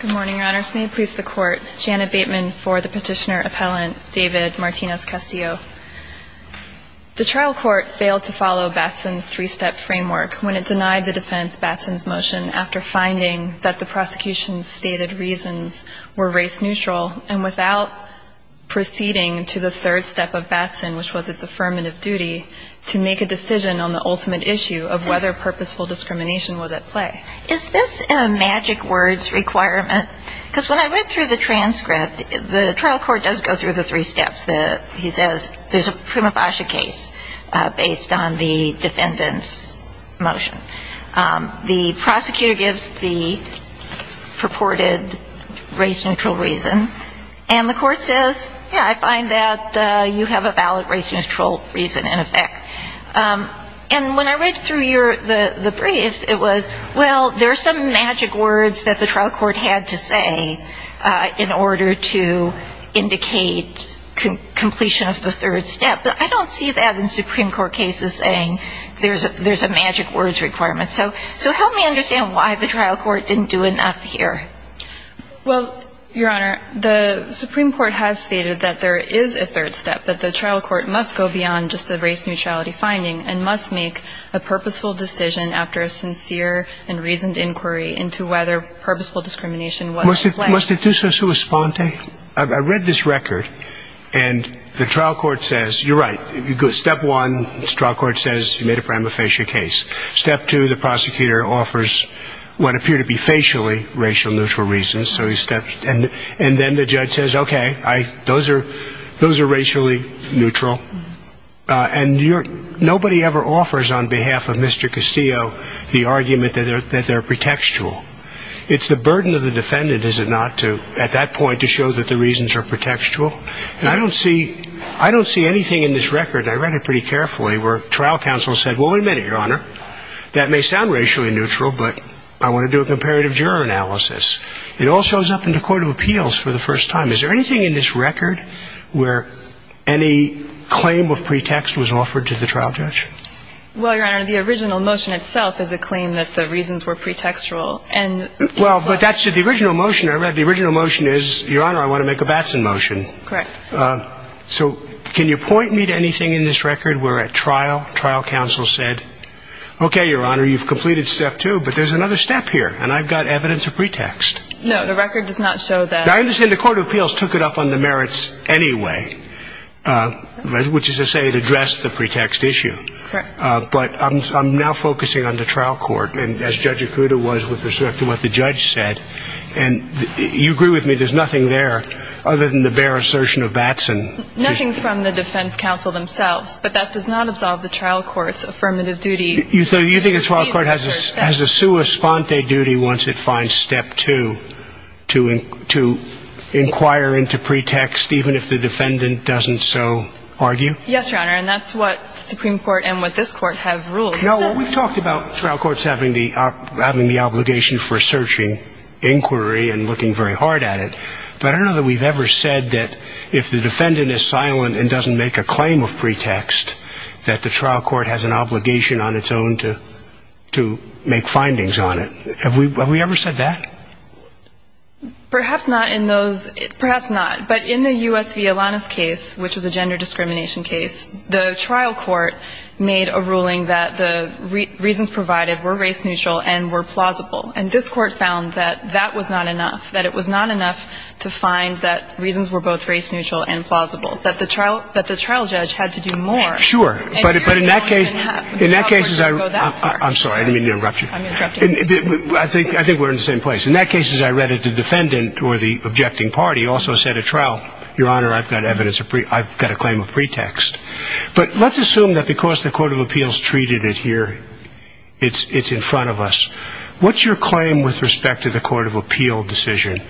Good morning, your honors. May it please the court, Janet Bateman for the petitioner-appellant David Martinez-Castillo. The trial court failed to follow Batson's three-step framework when it denied the defense Batson's motion after finding that the prosecution's stated reasons were race-neutral and without proceeding to the third step of Batson, which was its affirmative duty, to make a decision on the ultimate issue of whether purposeful discrimination was at play. Is this a magic words requirement? Because when I read through the transcript, the trial court does go through the three steps. He says there's a prima facie case based on the defendant's motion. The prosecutor gives the purported race-neutral reason, and the court says, yeah, I find that you have a valid race-neutral reason in effect. And when I read through the briefs, it was, well, there are some magic words that the trial court had to say in order to indicate completion of the third step. But I don't see that in Supreme Court cases saying there's a magic words requirement. So help me understand why the trial court didn't do enough here. JANET BATEMAN Well, your honor, the Supreme Court has stated that there is a third step, that the trial court must go beyond just the race-neutrality finding and must make a purposeful decision after a sincere and reasoned inquiry into whether purposeful discrimination was at play. JUDGE LEBEN Must I do so sua sponte? I read this record, and the trial court says, you're right, step one, the trial court says you made a prima facie case. Step two, the prosecutor offers what appear to be facially racial-neutral reasons, so he steps, and then the judge says, okay, those are racially neutral. And you're right, nobody ever offers on behalf of Mr. Castillo the argument that they're pretextual. It's the burden of the defendant, is it not, to at that point to show that the reasons are pretextual. And I don't see anything in this record, I read it pretty carefully, where trial counsel said, well, we meant it, your honor. That may sound racially neutral, but I want to do a comparative juror analysis. It all shows up in the court of appeals for the first time. Is there anything in this record where any claim of pretext was offered to the trial judge? Well, your honor, the original motion itself is a claim that the reasons were pretextual. Well, but that's the original motion I read. The original motion is, your honor, I want to make a Batson motion. Correct. So can you point me to anything in this record where at trial, trial counsel said, okay, your honor, you've completed step two, but there's another step here, and I've got evidence of pretext. No, the record does not show that. I understand the court of appeals took it up on the merits anyway, which is to say it addressed the pretext issue. Correct. But I'm now focusing on the trial court, and as Judge Ikuda was with respect to what the judge said, and you agree with me, there's nothing there other than the bare assertion of Batson. Nothing from the defense counsel themselves, but that does not absolve the trial court's affirmative duty. So you think the trial court has a sua sponte duty once it finds step two to inquire into pretext even if the defendant doesn't so argue? Yes, your honor, and that's what the Supreme Court and what this court have ruled. No, we've talked about trial courts having the obligation for searching inquiry and looking very hard at it, but I don't know that we've ever said that if the defendant is silent and doesn't make a claim of pretext, that the trial court has an obligation on its own to make findings on it. Have we ever said that? Perhaps not in those, perhaps not, but in the U.S. v. Alanis case, which was a gender discrimination case, the trial court made a ruling that the reasons provided were race neutral and were plausible. And this court found that that was not enough, that it was not enough to find that reasons were both race neutral and plausible, that the trial judge had to do more. Sure, but in that case, in that case, I'm sorry, I didn't mean to interrupt you. I think we're in the same place. In that case, as I read it, the defendant or the objecting party also said at trial, Your Honor, I've got evidence, I've got a claim of pretext. But let's assume that because the Court of Appeals treated it here, it's in front of us. What's your claim with respect to the Court of Appeals decision?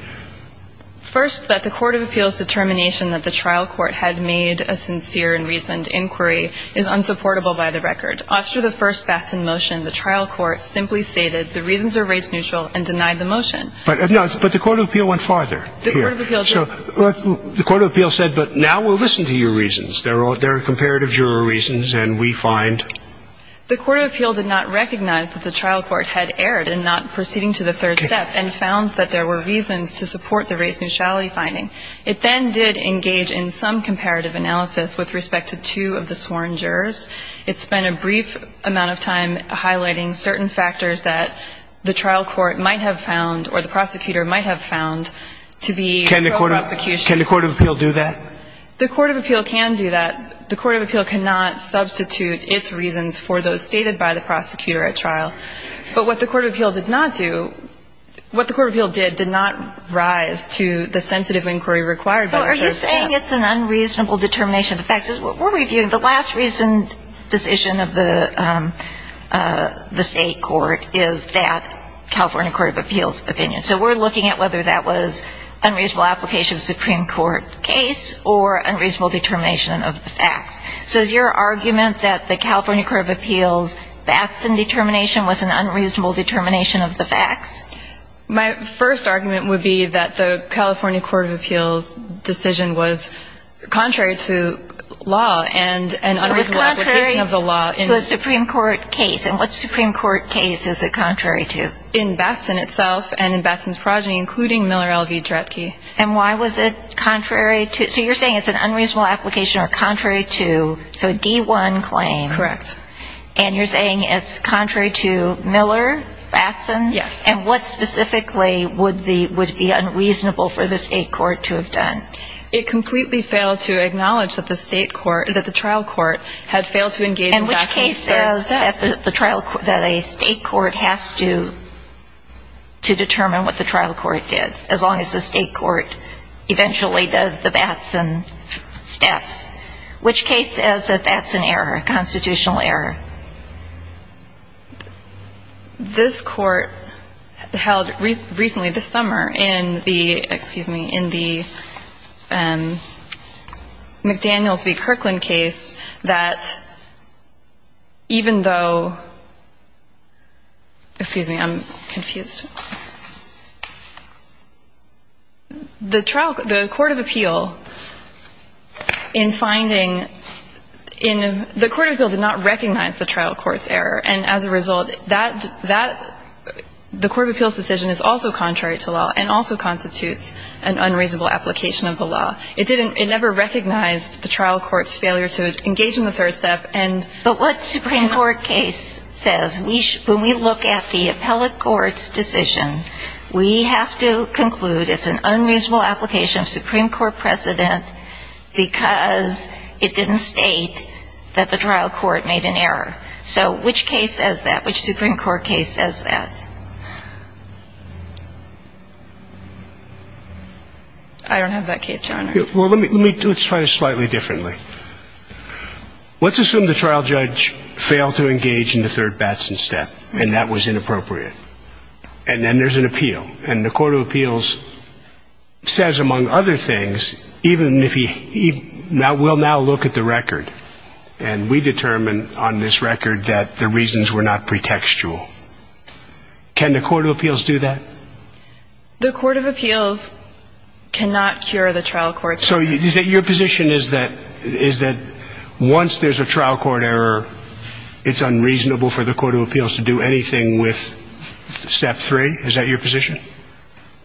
First that the Court of Appeals' determination that the trial court had made a sincere and reasoned inquiry is unsupportable by the record. After the first fastened motion, the trial court simply stated the reasons are race neutral and denied the motion. But the Court of Appeals went farther. The Court of Appeals said, but now we'll listen to your reasons. There are comparative juror reasons, and we find. The Court of Appeals did not recognize that the trial court had erred in not proceeding to the third step, and found that there were reasons to support the race neutrality finding. It then did engage in some comparative analysis with respect to two of the sworn jurors. It spent a brief amount of time highlighting certain factors that the trial court might have found, or the prosecutor might have found, to be pro-prosecution. Can the Court of Appeals do that? The Court of Appeals can do that. The Court of Appeals cannot substitute its reasons for those stated by the prosecutor at trial. But what the Court of Appeals did not do, what the Court of Appeals did, did not rise to the sensitive inquiry required by the third step. So are you saying it's an unreasonable determination of the facts? The last recent decision of the state court is that California Court of Appeals opinion. So we're looking at whether that was unreasonable application of the Supreme Court case or unreasonable determination of the facts. So is your argument that the California Court of Appeals facts and determination was an unreasonable determination of the facts? My first argument would be that the California Court of Appeals decision was contrary to law and an unreasonable application of the law in the Supreme Court case. And what Supreme Court case is it contrary to? In Batson itself and in Batson's progeny, including Miller L.V. Dretke. And why was it contrary to – so you're saying it's an unreasonable application or contrary to – so a D-1 claim. Correct. And you're saying it's contrary to Miller, Batson? Yes. And what specifically would be unreasonable for the state court to have done? It completely failed to acknowledge that the state court – that the trial court had failed to engage in Batson's third step. And which case says that a state court has to determine what the trial court did, as long as the state court eventually does the Batson steps? Which case says that that's an error, a constitutional error? This court held recently, this summer, in the, excuse me, in the McDaniels v. Kirkland case, that even though – excuse me, I'm confused – the trial – the Court of Appeal in finding – the Court of Appeal did not recognize the trial court's error. And as a result, that – the Court of Appeal's decision is also contrary to law and also constitutes an unreasonable application of the law. It didn't – it never recognized the trial court's failure to engage in the third step and – But what Supreme Court case says, when we look at the appellate court's decision, we have to conclude it's an unreasonable application of Supreme Court precedent because it didn't state that the trial court made an error. So which case says that? Which Supreme Court case says that? I don't have that case, Your Honor. Well, let me – let's try it slightly differently. Let's assume the trial judge failed to engage in the third Batson step and that was inappropriate. And then there's an appeal. And the Court of Appeals says, among other things, even if he – we'll now look at the record and we determine on this record that the reasons were not pretextual. Can the Court of Appeals do that? The Court of Appeals cannot cure the trial court's error. So is it – your position is that once there's a trial court error, it's unreasonable for the Court of Appeals to do anything with step three? Is that your position?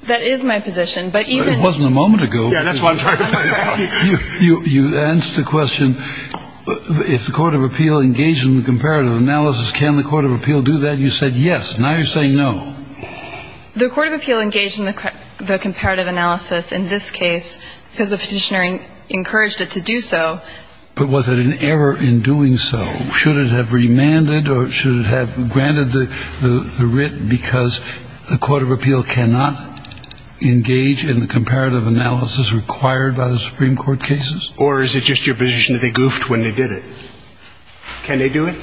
That is my position. But even – It wasn't a moment ago. Yeah, that's what I'm trying to find out. You answered the question, if the Court of Appeal engaged in the comparative analysis, can the Court of Appeal do that? You said yes. Now you're saying no. The Court of Appeal engaged in the comparative analysis in this case because the petitioner encouraged it to do so. But was it an error in doing so? Should it have remanded or should it have granted the writ because the Court of Appeal cannot engage in the comparative analysis required by the Supreme Court cases? Or is it just your position that they goofed when they did it? Can they do it?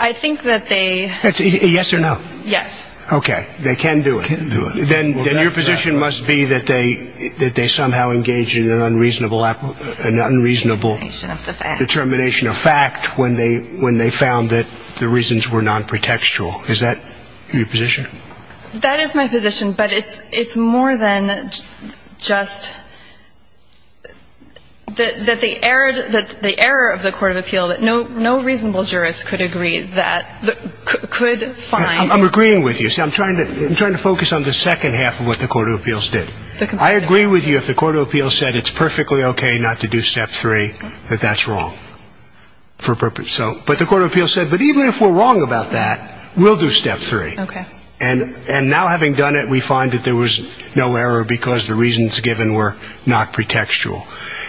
I think that they – Yes or no? Yes. Okay. They can do it. Can do it. Then your position must be that they somehow engaged in an unreasonable determination of fact when they found that the reasons were nonprotectual. Is that your position? That is my position. But it's more than just that the error of the Court of Appeal that no reasonable jurist could agree that – could find – I'm agreeing with you. See, I'm trying to focus on the second half of what the Court of Appeals did. I agree with you if the Court of Appeals said it's perfectly okay not to do step three, that that's wrong for a purpose. So – but the Court of Appeals said, but even if we're wrong about that, we'll do step three. Okay. And now having done it, we find that there was no error because the reasons given were not pretextual.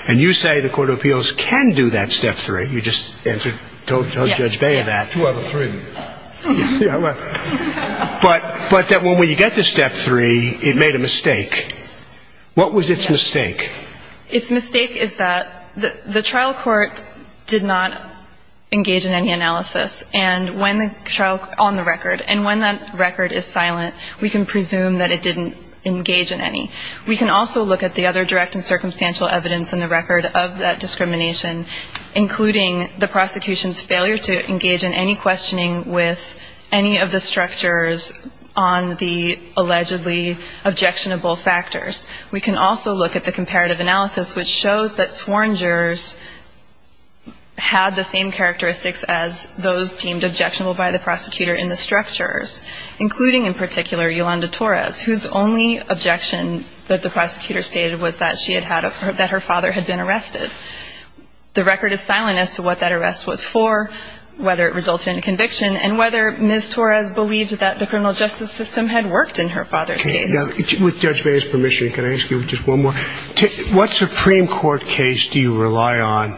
And you say the Court of Appeals can do that step three. You just answered – told Judge Bay that. Yes, yes. Two out of three. Yeah, right. But that when you get to step three, it made a mistake. What was its mistake? Its mistake is that the trial court did not engage in any analysis. And when the trial – on the record, and when that record is silent, we can presume that it didn't engage in any. We can also look at the other direct and circumstantial evidence in the record of that discrimination, including the prosecution's failure to engage in any questioning with any of the structures on the allegedly objectionable factors. We can also look at the comparative analysis, which shows that sworn jurors had the same characteristics as those deemed objectionable by the prosecutor in the structures, including in particular Yolanda Torres, whose only objection that the prosecutor stated was that she had had – that her father had been arrested. The record is silent as to what that arrest was for, whether it resulted in a conviction, and whether Ms. Torres believed that the criminal justice system had worked in her father's case. With Judge May's permission, can I ask you just one more? What Supreme Court case do you rely on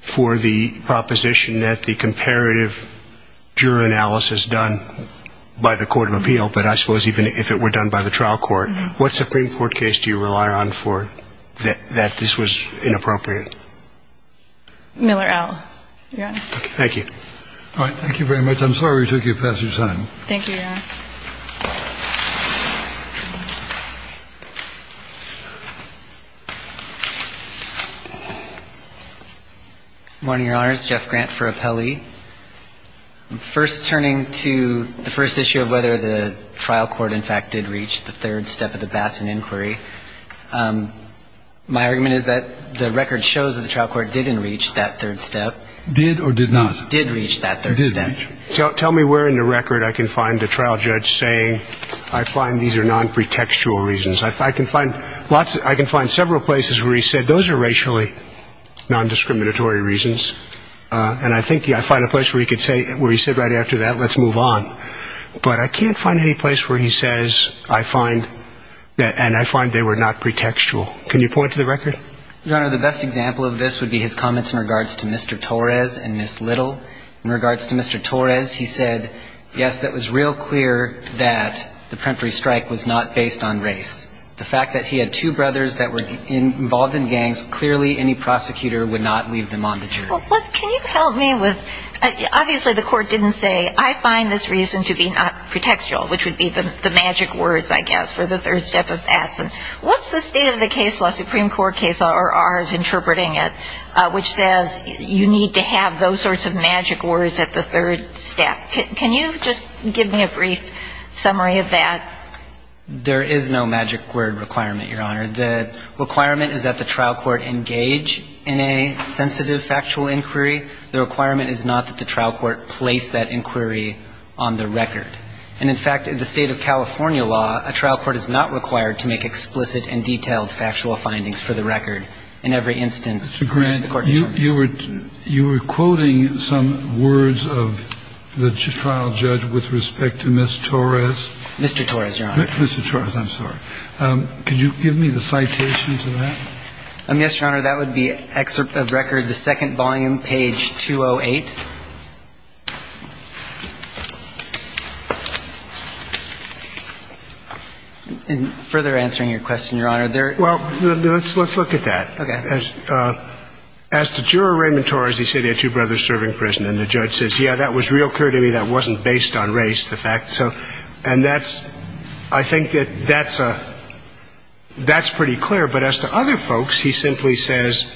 for the proposition that the comparative juror analysis done by the court of appeal, but I suppose even if it were done by the trial court, what Supreme Court case do you rely on for that this was inappropriate? Miller L. Your Honor. Thank you. All right. Thank you very much. I'm sorry we took you past your time. Thank you, Your Honor. Morning, Your Honors. Jeff Grant for Appellee. I'm first turning to the first issue of whether the trial court in fact did reach the third step of the Batson inquiry. My argument is that the record shows that the trial court didn't reach that third step. Did or did not? Did reach that third step. Tell me where in the record I can find a trial judge saying I find these are nonpretextual reasons. I can find several places where he said those are racially nondiscriminatory reasons. And I think I find a place where he could say, where he said right after that, let's move on. But I can't find any place where he says I find, and I find they were not pretextual. Can you point to the record? Your Honor, the best example of this would be his comments in regards to Mr. Torres and Ms. Little. In regards to Mr. Torres, he said, yes, that was real clear that the Pempery strike was not based on race. The fact that he had two brothers that were involved in gangs, clearly any prosecutor would not leave them on the jury. Can you help me with, obviously the court didn't say, I find this reason to be not pretextual, which would be the magic words, I guess, for the third step of Batson. What's the state of the case law, Supreme Court case law, or ours interpreting it, which says you need to have those sorts of magic words at the third step? Can you just give me a brief summary of that? There is no magic word requirement, Your Honor. The requirement is that the trial court engage in a sensitive factual inquiry. The requirement is not that the trial court place that inquiry on the record. And in fact, in the state of California law, a trial court is not required to make explicit and detailed factual findings for the record in every instance. Mr. Grant, you were quoting some words of the trial judge with respect to Ms. Torres. Mr. Torres, Your Honor. Mr. Torres, I'm sorry. Could you give me the citation to that? Yes, Your Honor. That would be excerpt of record, the second volume, page 208. And further answering your question, Your Honor, there are – Well, let's look at that. Okay. As to juror Raymond Torres, he said he had two brothers serving prison, and the judge says, yeah, that was real clear to me that wasn't based on race, the fact. So – and that's – I think that that's a – that's pretty clear. But as to other folks, he simply says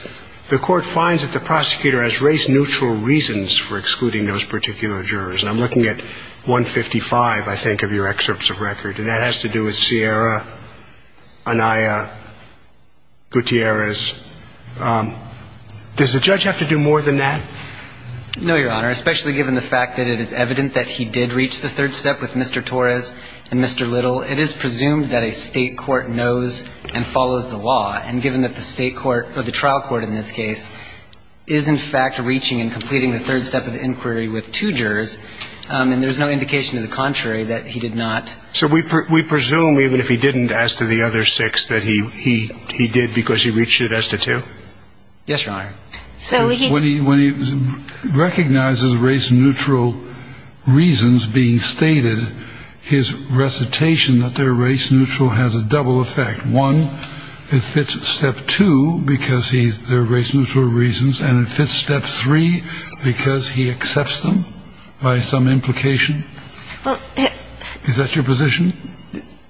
the court finds that the prosecutor has race-neutral reasons for excluding those particular jurors. And I'm looking at 155, I think, of your excerpts of record, and that has to do with Sierra, Anaya, Gutierrez. Does the judge have to do more than that? No, Your Honor, especially given the fact that it is evident that he did reach the third step with Mr. Torres and Mr. Little. It is presumed that a state court knows and follows the law, and given that the state court in this case is, in fact, reaching and completing the third step of inquiry with two jurors, and there's no indication to the contrary that he did not. So we presume, even if he didn't, as to the other six, that he did because he reached it as to two? Yes, Your Honor. So he – When he recognizes race-neutral reasons being stated, his recitation that they're race-neutral has a double effect. One, it fits Step 2 because he's – they're race-neutral reasons, and it fits Step 3 because he accepts them by some implication? Well, he – Is that your position?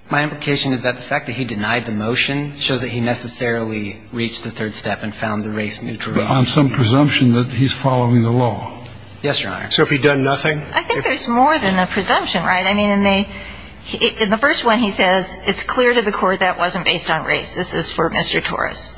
My implication is that the fact that he denied the motion shows that he necessarily reached the third step and found the race-neutral. But on some presumption that he's following the law. Yes, Your Honor. So if he'd done nothing? I think there's more than a presumption, right? In the first one, he says, it's clear to the court that wasn't based on race. This is for Mr. Torres.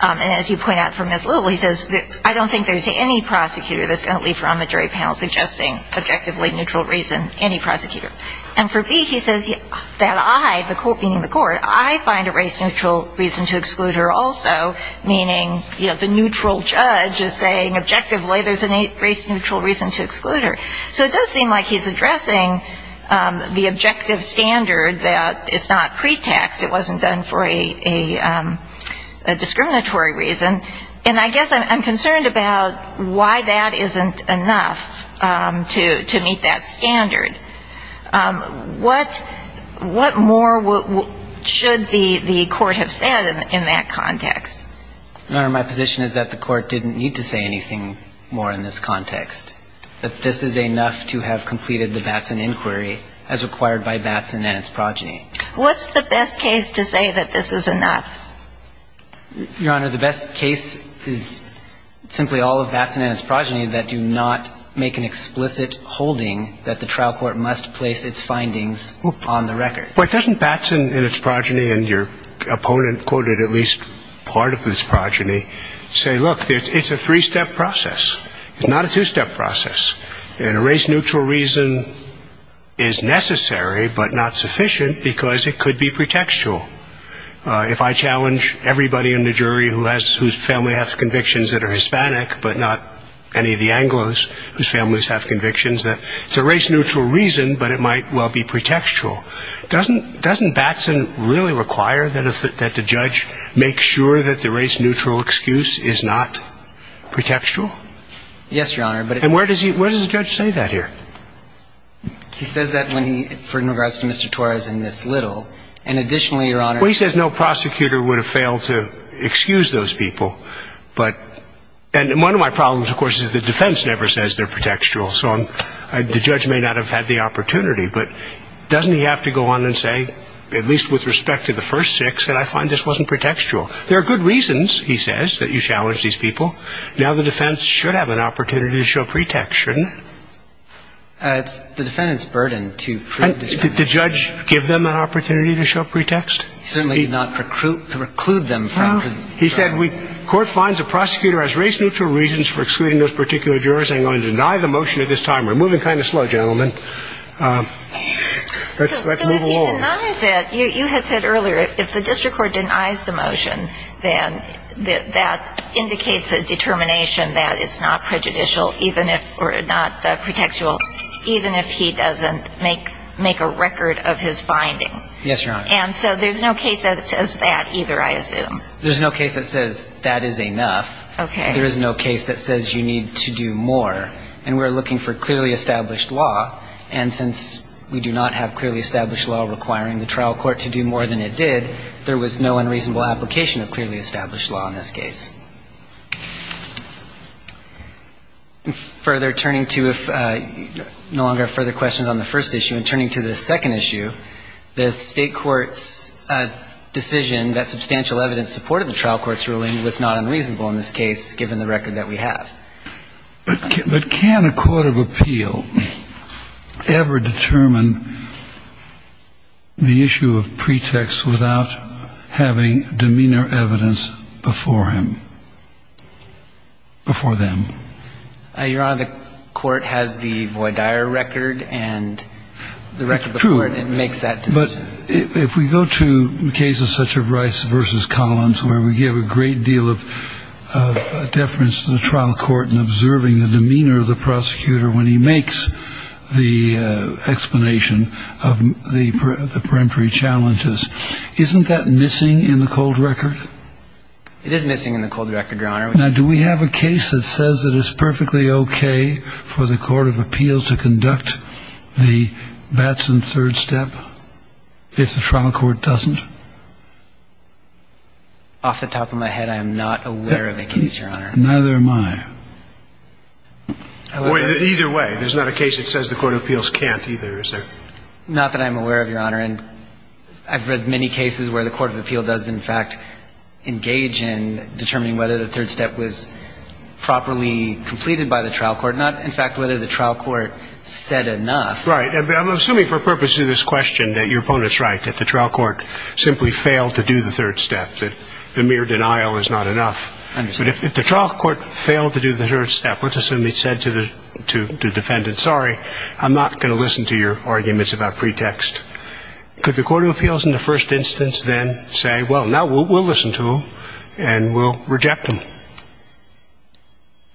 And as you point out from Ms. Little, he says, I don't think there's any prosecutor that's going to leave her on the jury panel suggesting objectively neutral reason, any prosecutor. And for B, he says that I, the court – meaning the court – I find a race-neutral reason to exclude her also, meaning, you know, the neutral judge is saying objectively there's a race-neutral reason to exclude her. So it does seem like he's addressing the objective standard that it's not pretext, it wasn't done for a discriminatory reason. And I guess I'm concerned about why that isn't enough to meet that standard. What more should the court have said in that context? Your Honor, my position is that the court didn't need to say anything more in this context. That this is enough to have completed the Batson inquiry as required by Batson and its progeny. What's the best case to say that this is enough? Your Honor, the best case is simply all of Batson and its progeny that do not make an explicit holding that the trial court must place its findings on the record. But doesn't Batson and its progeny, and your opponent quoted at least part of his And a race-neutral reason is necessary but not sufficient because it could be pretextual. If I challenge everybody in the jury whose family have convictions that are Hispanic but not any of the Anglos whose families have convictions, it's a race-neutral reason but it might well be pretextual. Doesn't Batson really require that the judge make sure that the race-neutral excuse is not pretextual? Yes, Your Honor. And where does the judge say that here? He says that when he, in regards to Mr. Torres and Miss Little. And additionally, Your Honor. Well, he says no prosecutor would have failed to excuse those people. And one of my problems, of course, is the defense never says they're pretextual. So the judge may not have had the opportunity. But doesn't he have to go on and say, at least with respect to the first six, that I find this wasn't pretextual. There are good reasons, he says, that you challenge these people. Now the defense should have an opportunity to show pretext, shouldn't it? It's the defendant's burden to prove this. And did the judge give them an opportunity to show pretext? He certainly did not preclude them from. He said court finds a prosecutor has race-neutral reasons for excluding those particular jurors. I'm going to deny the motion at this time. We're moving kind of slow, gentlemen. Let's move along. So if he denies it, you had said earlier, if the district court denies the motion, then that indicates a determination that it's not prejudicial, even if or not pretextual, even if he doesn't make a record of his finding. Yes, Your Honor. And so there's no case that says that either, I assume. There's no case that says that is enough. Okay. There is no case that says you need to do more. And we're looking for clearly established law. And since we do not have clearly established law requiring the trial court to do more than it did, there was no unreasonable application of clearly established law in this case. Further, turning to, if you no longer have further questions on the first issue, and turning to the second issue, the State court's decision that substantial evidence supported the trial court's ruling was not unreasonable in this case, given the record that we have. But can a court of appeal ever determine the issue of pretext without a pretext? Without having demeanor evidence before him? Before them? Your Honor, the court has the Voidire record, and the record before it makes that decision. It's true. But if we go to cases such as Rice v. Collins, where we give a great deal of deference to the trial court in observing the demeanor of the prosecutor when he makes the explanation of the temporary challenges, isn't that missing in the cold record? It is missing in the cold record, Your Honor. Now, do we have a case that says it is perfectly okay for the court of appeals to conduct the Batson third step if the trial court doesn't? Off the top of my head, I am not aware of a case, Your Honor. Neither am I. Either way, there's not a case that says the court of appeals can't either, is there? Not that I'm aware of, Your Honor. And I've read many cases where the court of appeal does, in fact, engage in determining whether the third step was properly completed by the trial court. Not, in fact, whether the trial court said enough. Right. I'm assuming for purposes of this question that your opponent is right, that the trial court simply failed to do the third step, that the mere denial is not enough. I understand. But if the trial court failed to do the third step, let's assume it said to the defendant, sorry, I'm not going to listen to your arguments about pretext. Could the court of appeals in the first instance then say, well, now we'll listen to him and we'll reject him?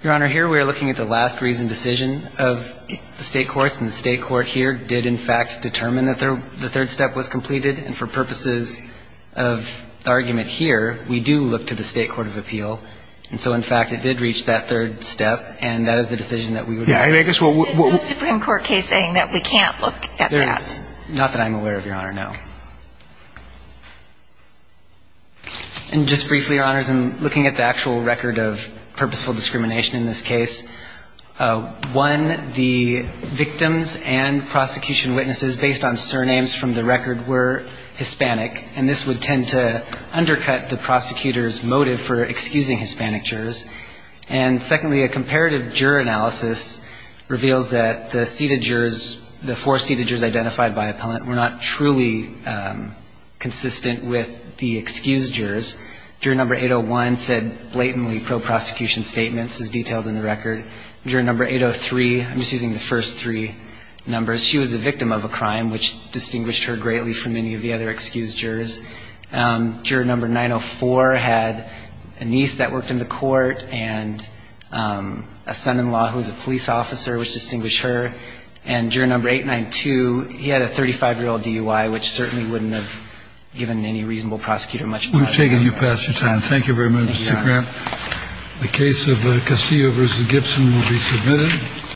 Your Honor, here we are looking at the last reasoned decision of the state courts, and the state court here did, in fact, determine that the third step was completed. And for purposes of argument here, we do look to the state court of appeal. And so, in fact, it did reach that third step, and that is the decision that we would make. All right. I guess what we're going to do. There's no Supreme Court case saying that we can't look at that. Not that I'm aware of, Your Honor, no. And just briefly, Your Honors, in looking at the actual record of purposeful discrimination in this case, one, the victims and prosecution witnesses based on surnames from the record were Hispanic, and this would tend to undercut the prosecutor's motive for excusing Hispanic jurors. And secondly, a comparative juror analysis reveals that the seated jurors, the four seated jurors identified by appellant, were not truly consistent with the excused jurors. Juror number 801 said blatantly pro-prosecution statements, as detailed in the record. Juror number 803, I'm just using the first three numbers, she was the victim of a crime, which distinguished her greatly from any of the other excused jurors. Juror number 904 had a niece that worked in the court and a son-in-law who was a police officer, which distinguished her. And juror number 892, he had a 35-year-old DUI, which certainly wouldn't have given any reasonable prosecutor much pleasure. We've taken you past your time. Thank you very much, Mr. Grant. Thank you, Your Honor. The case of Castillo v. Gibson will be submitted.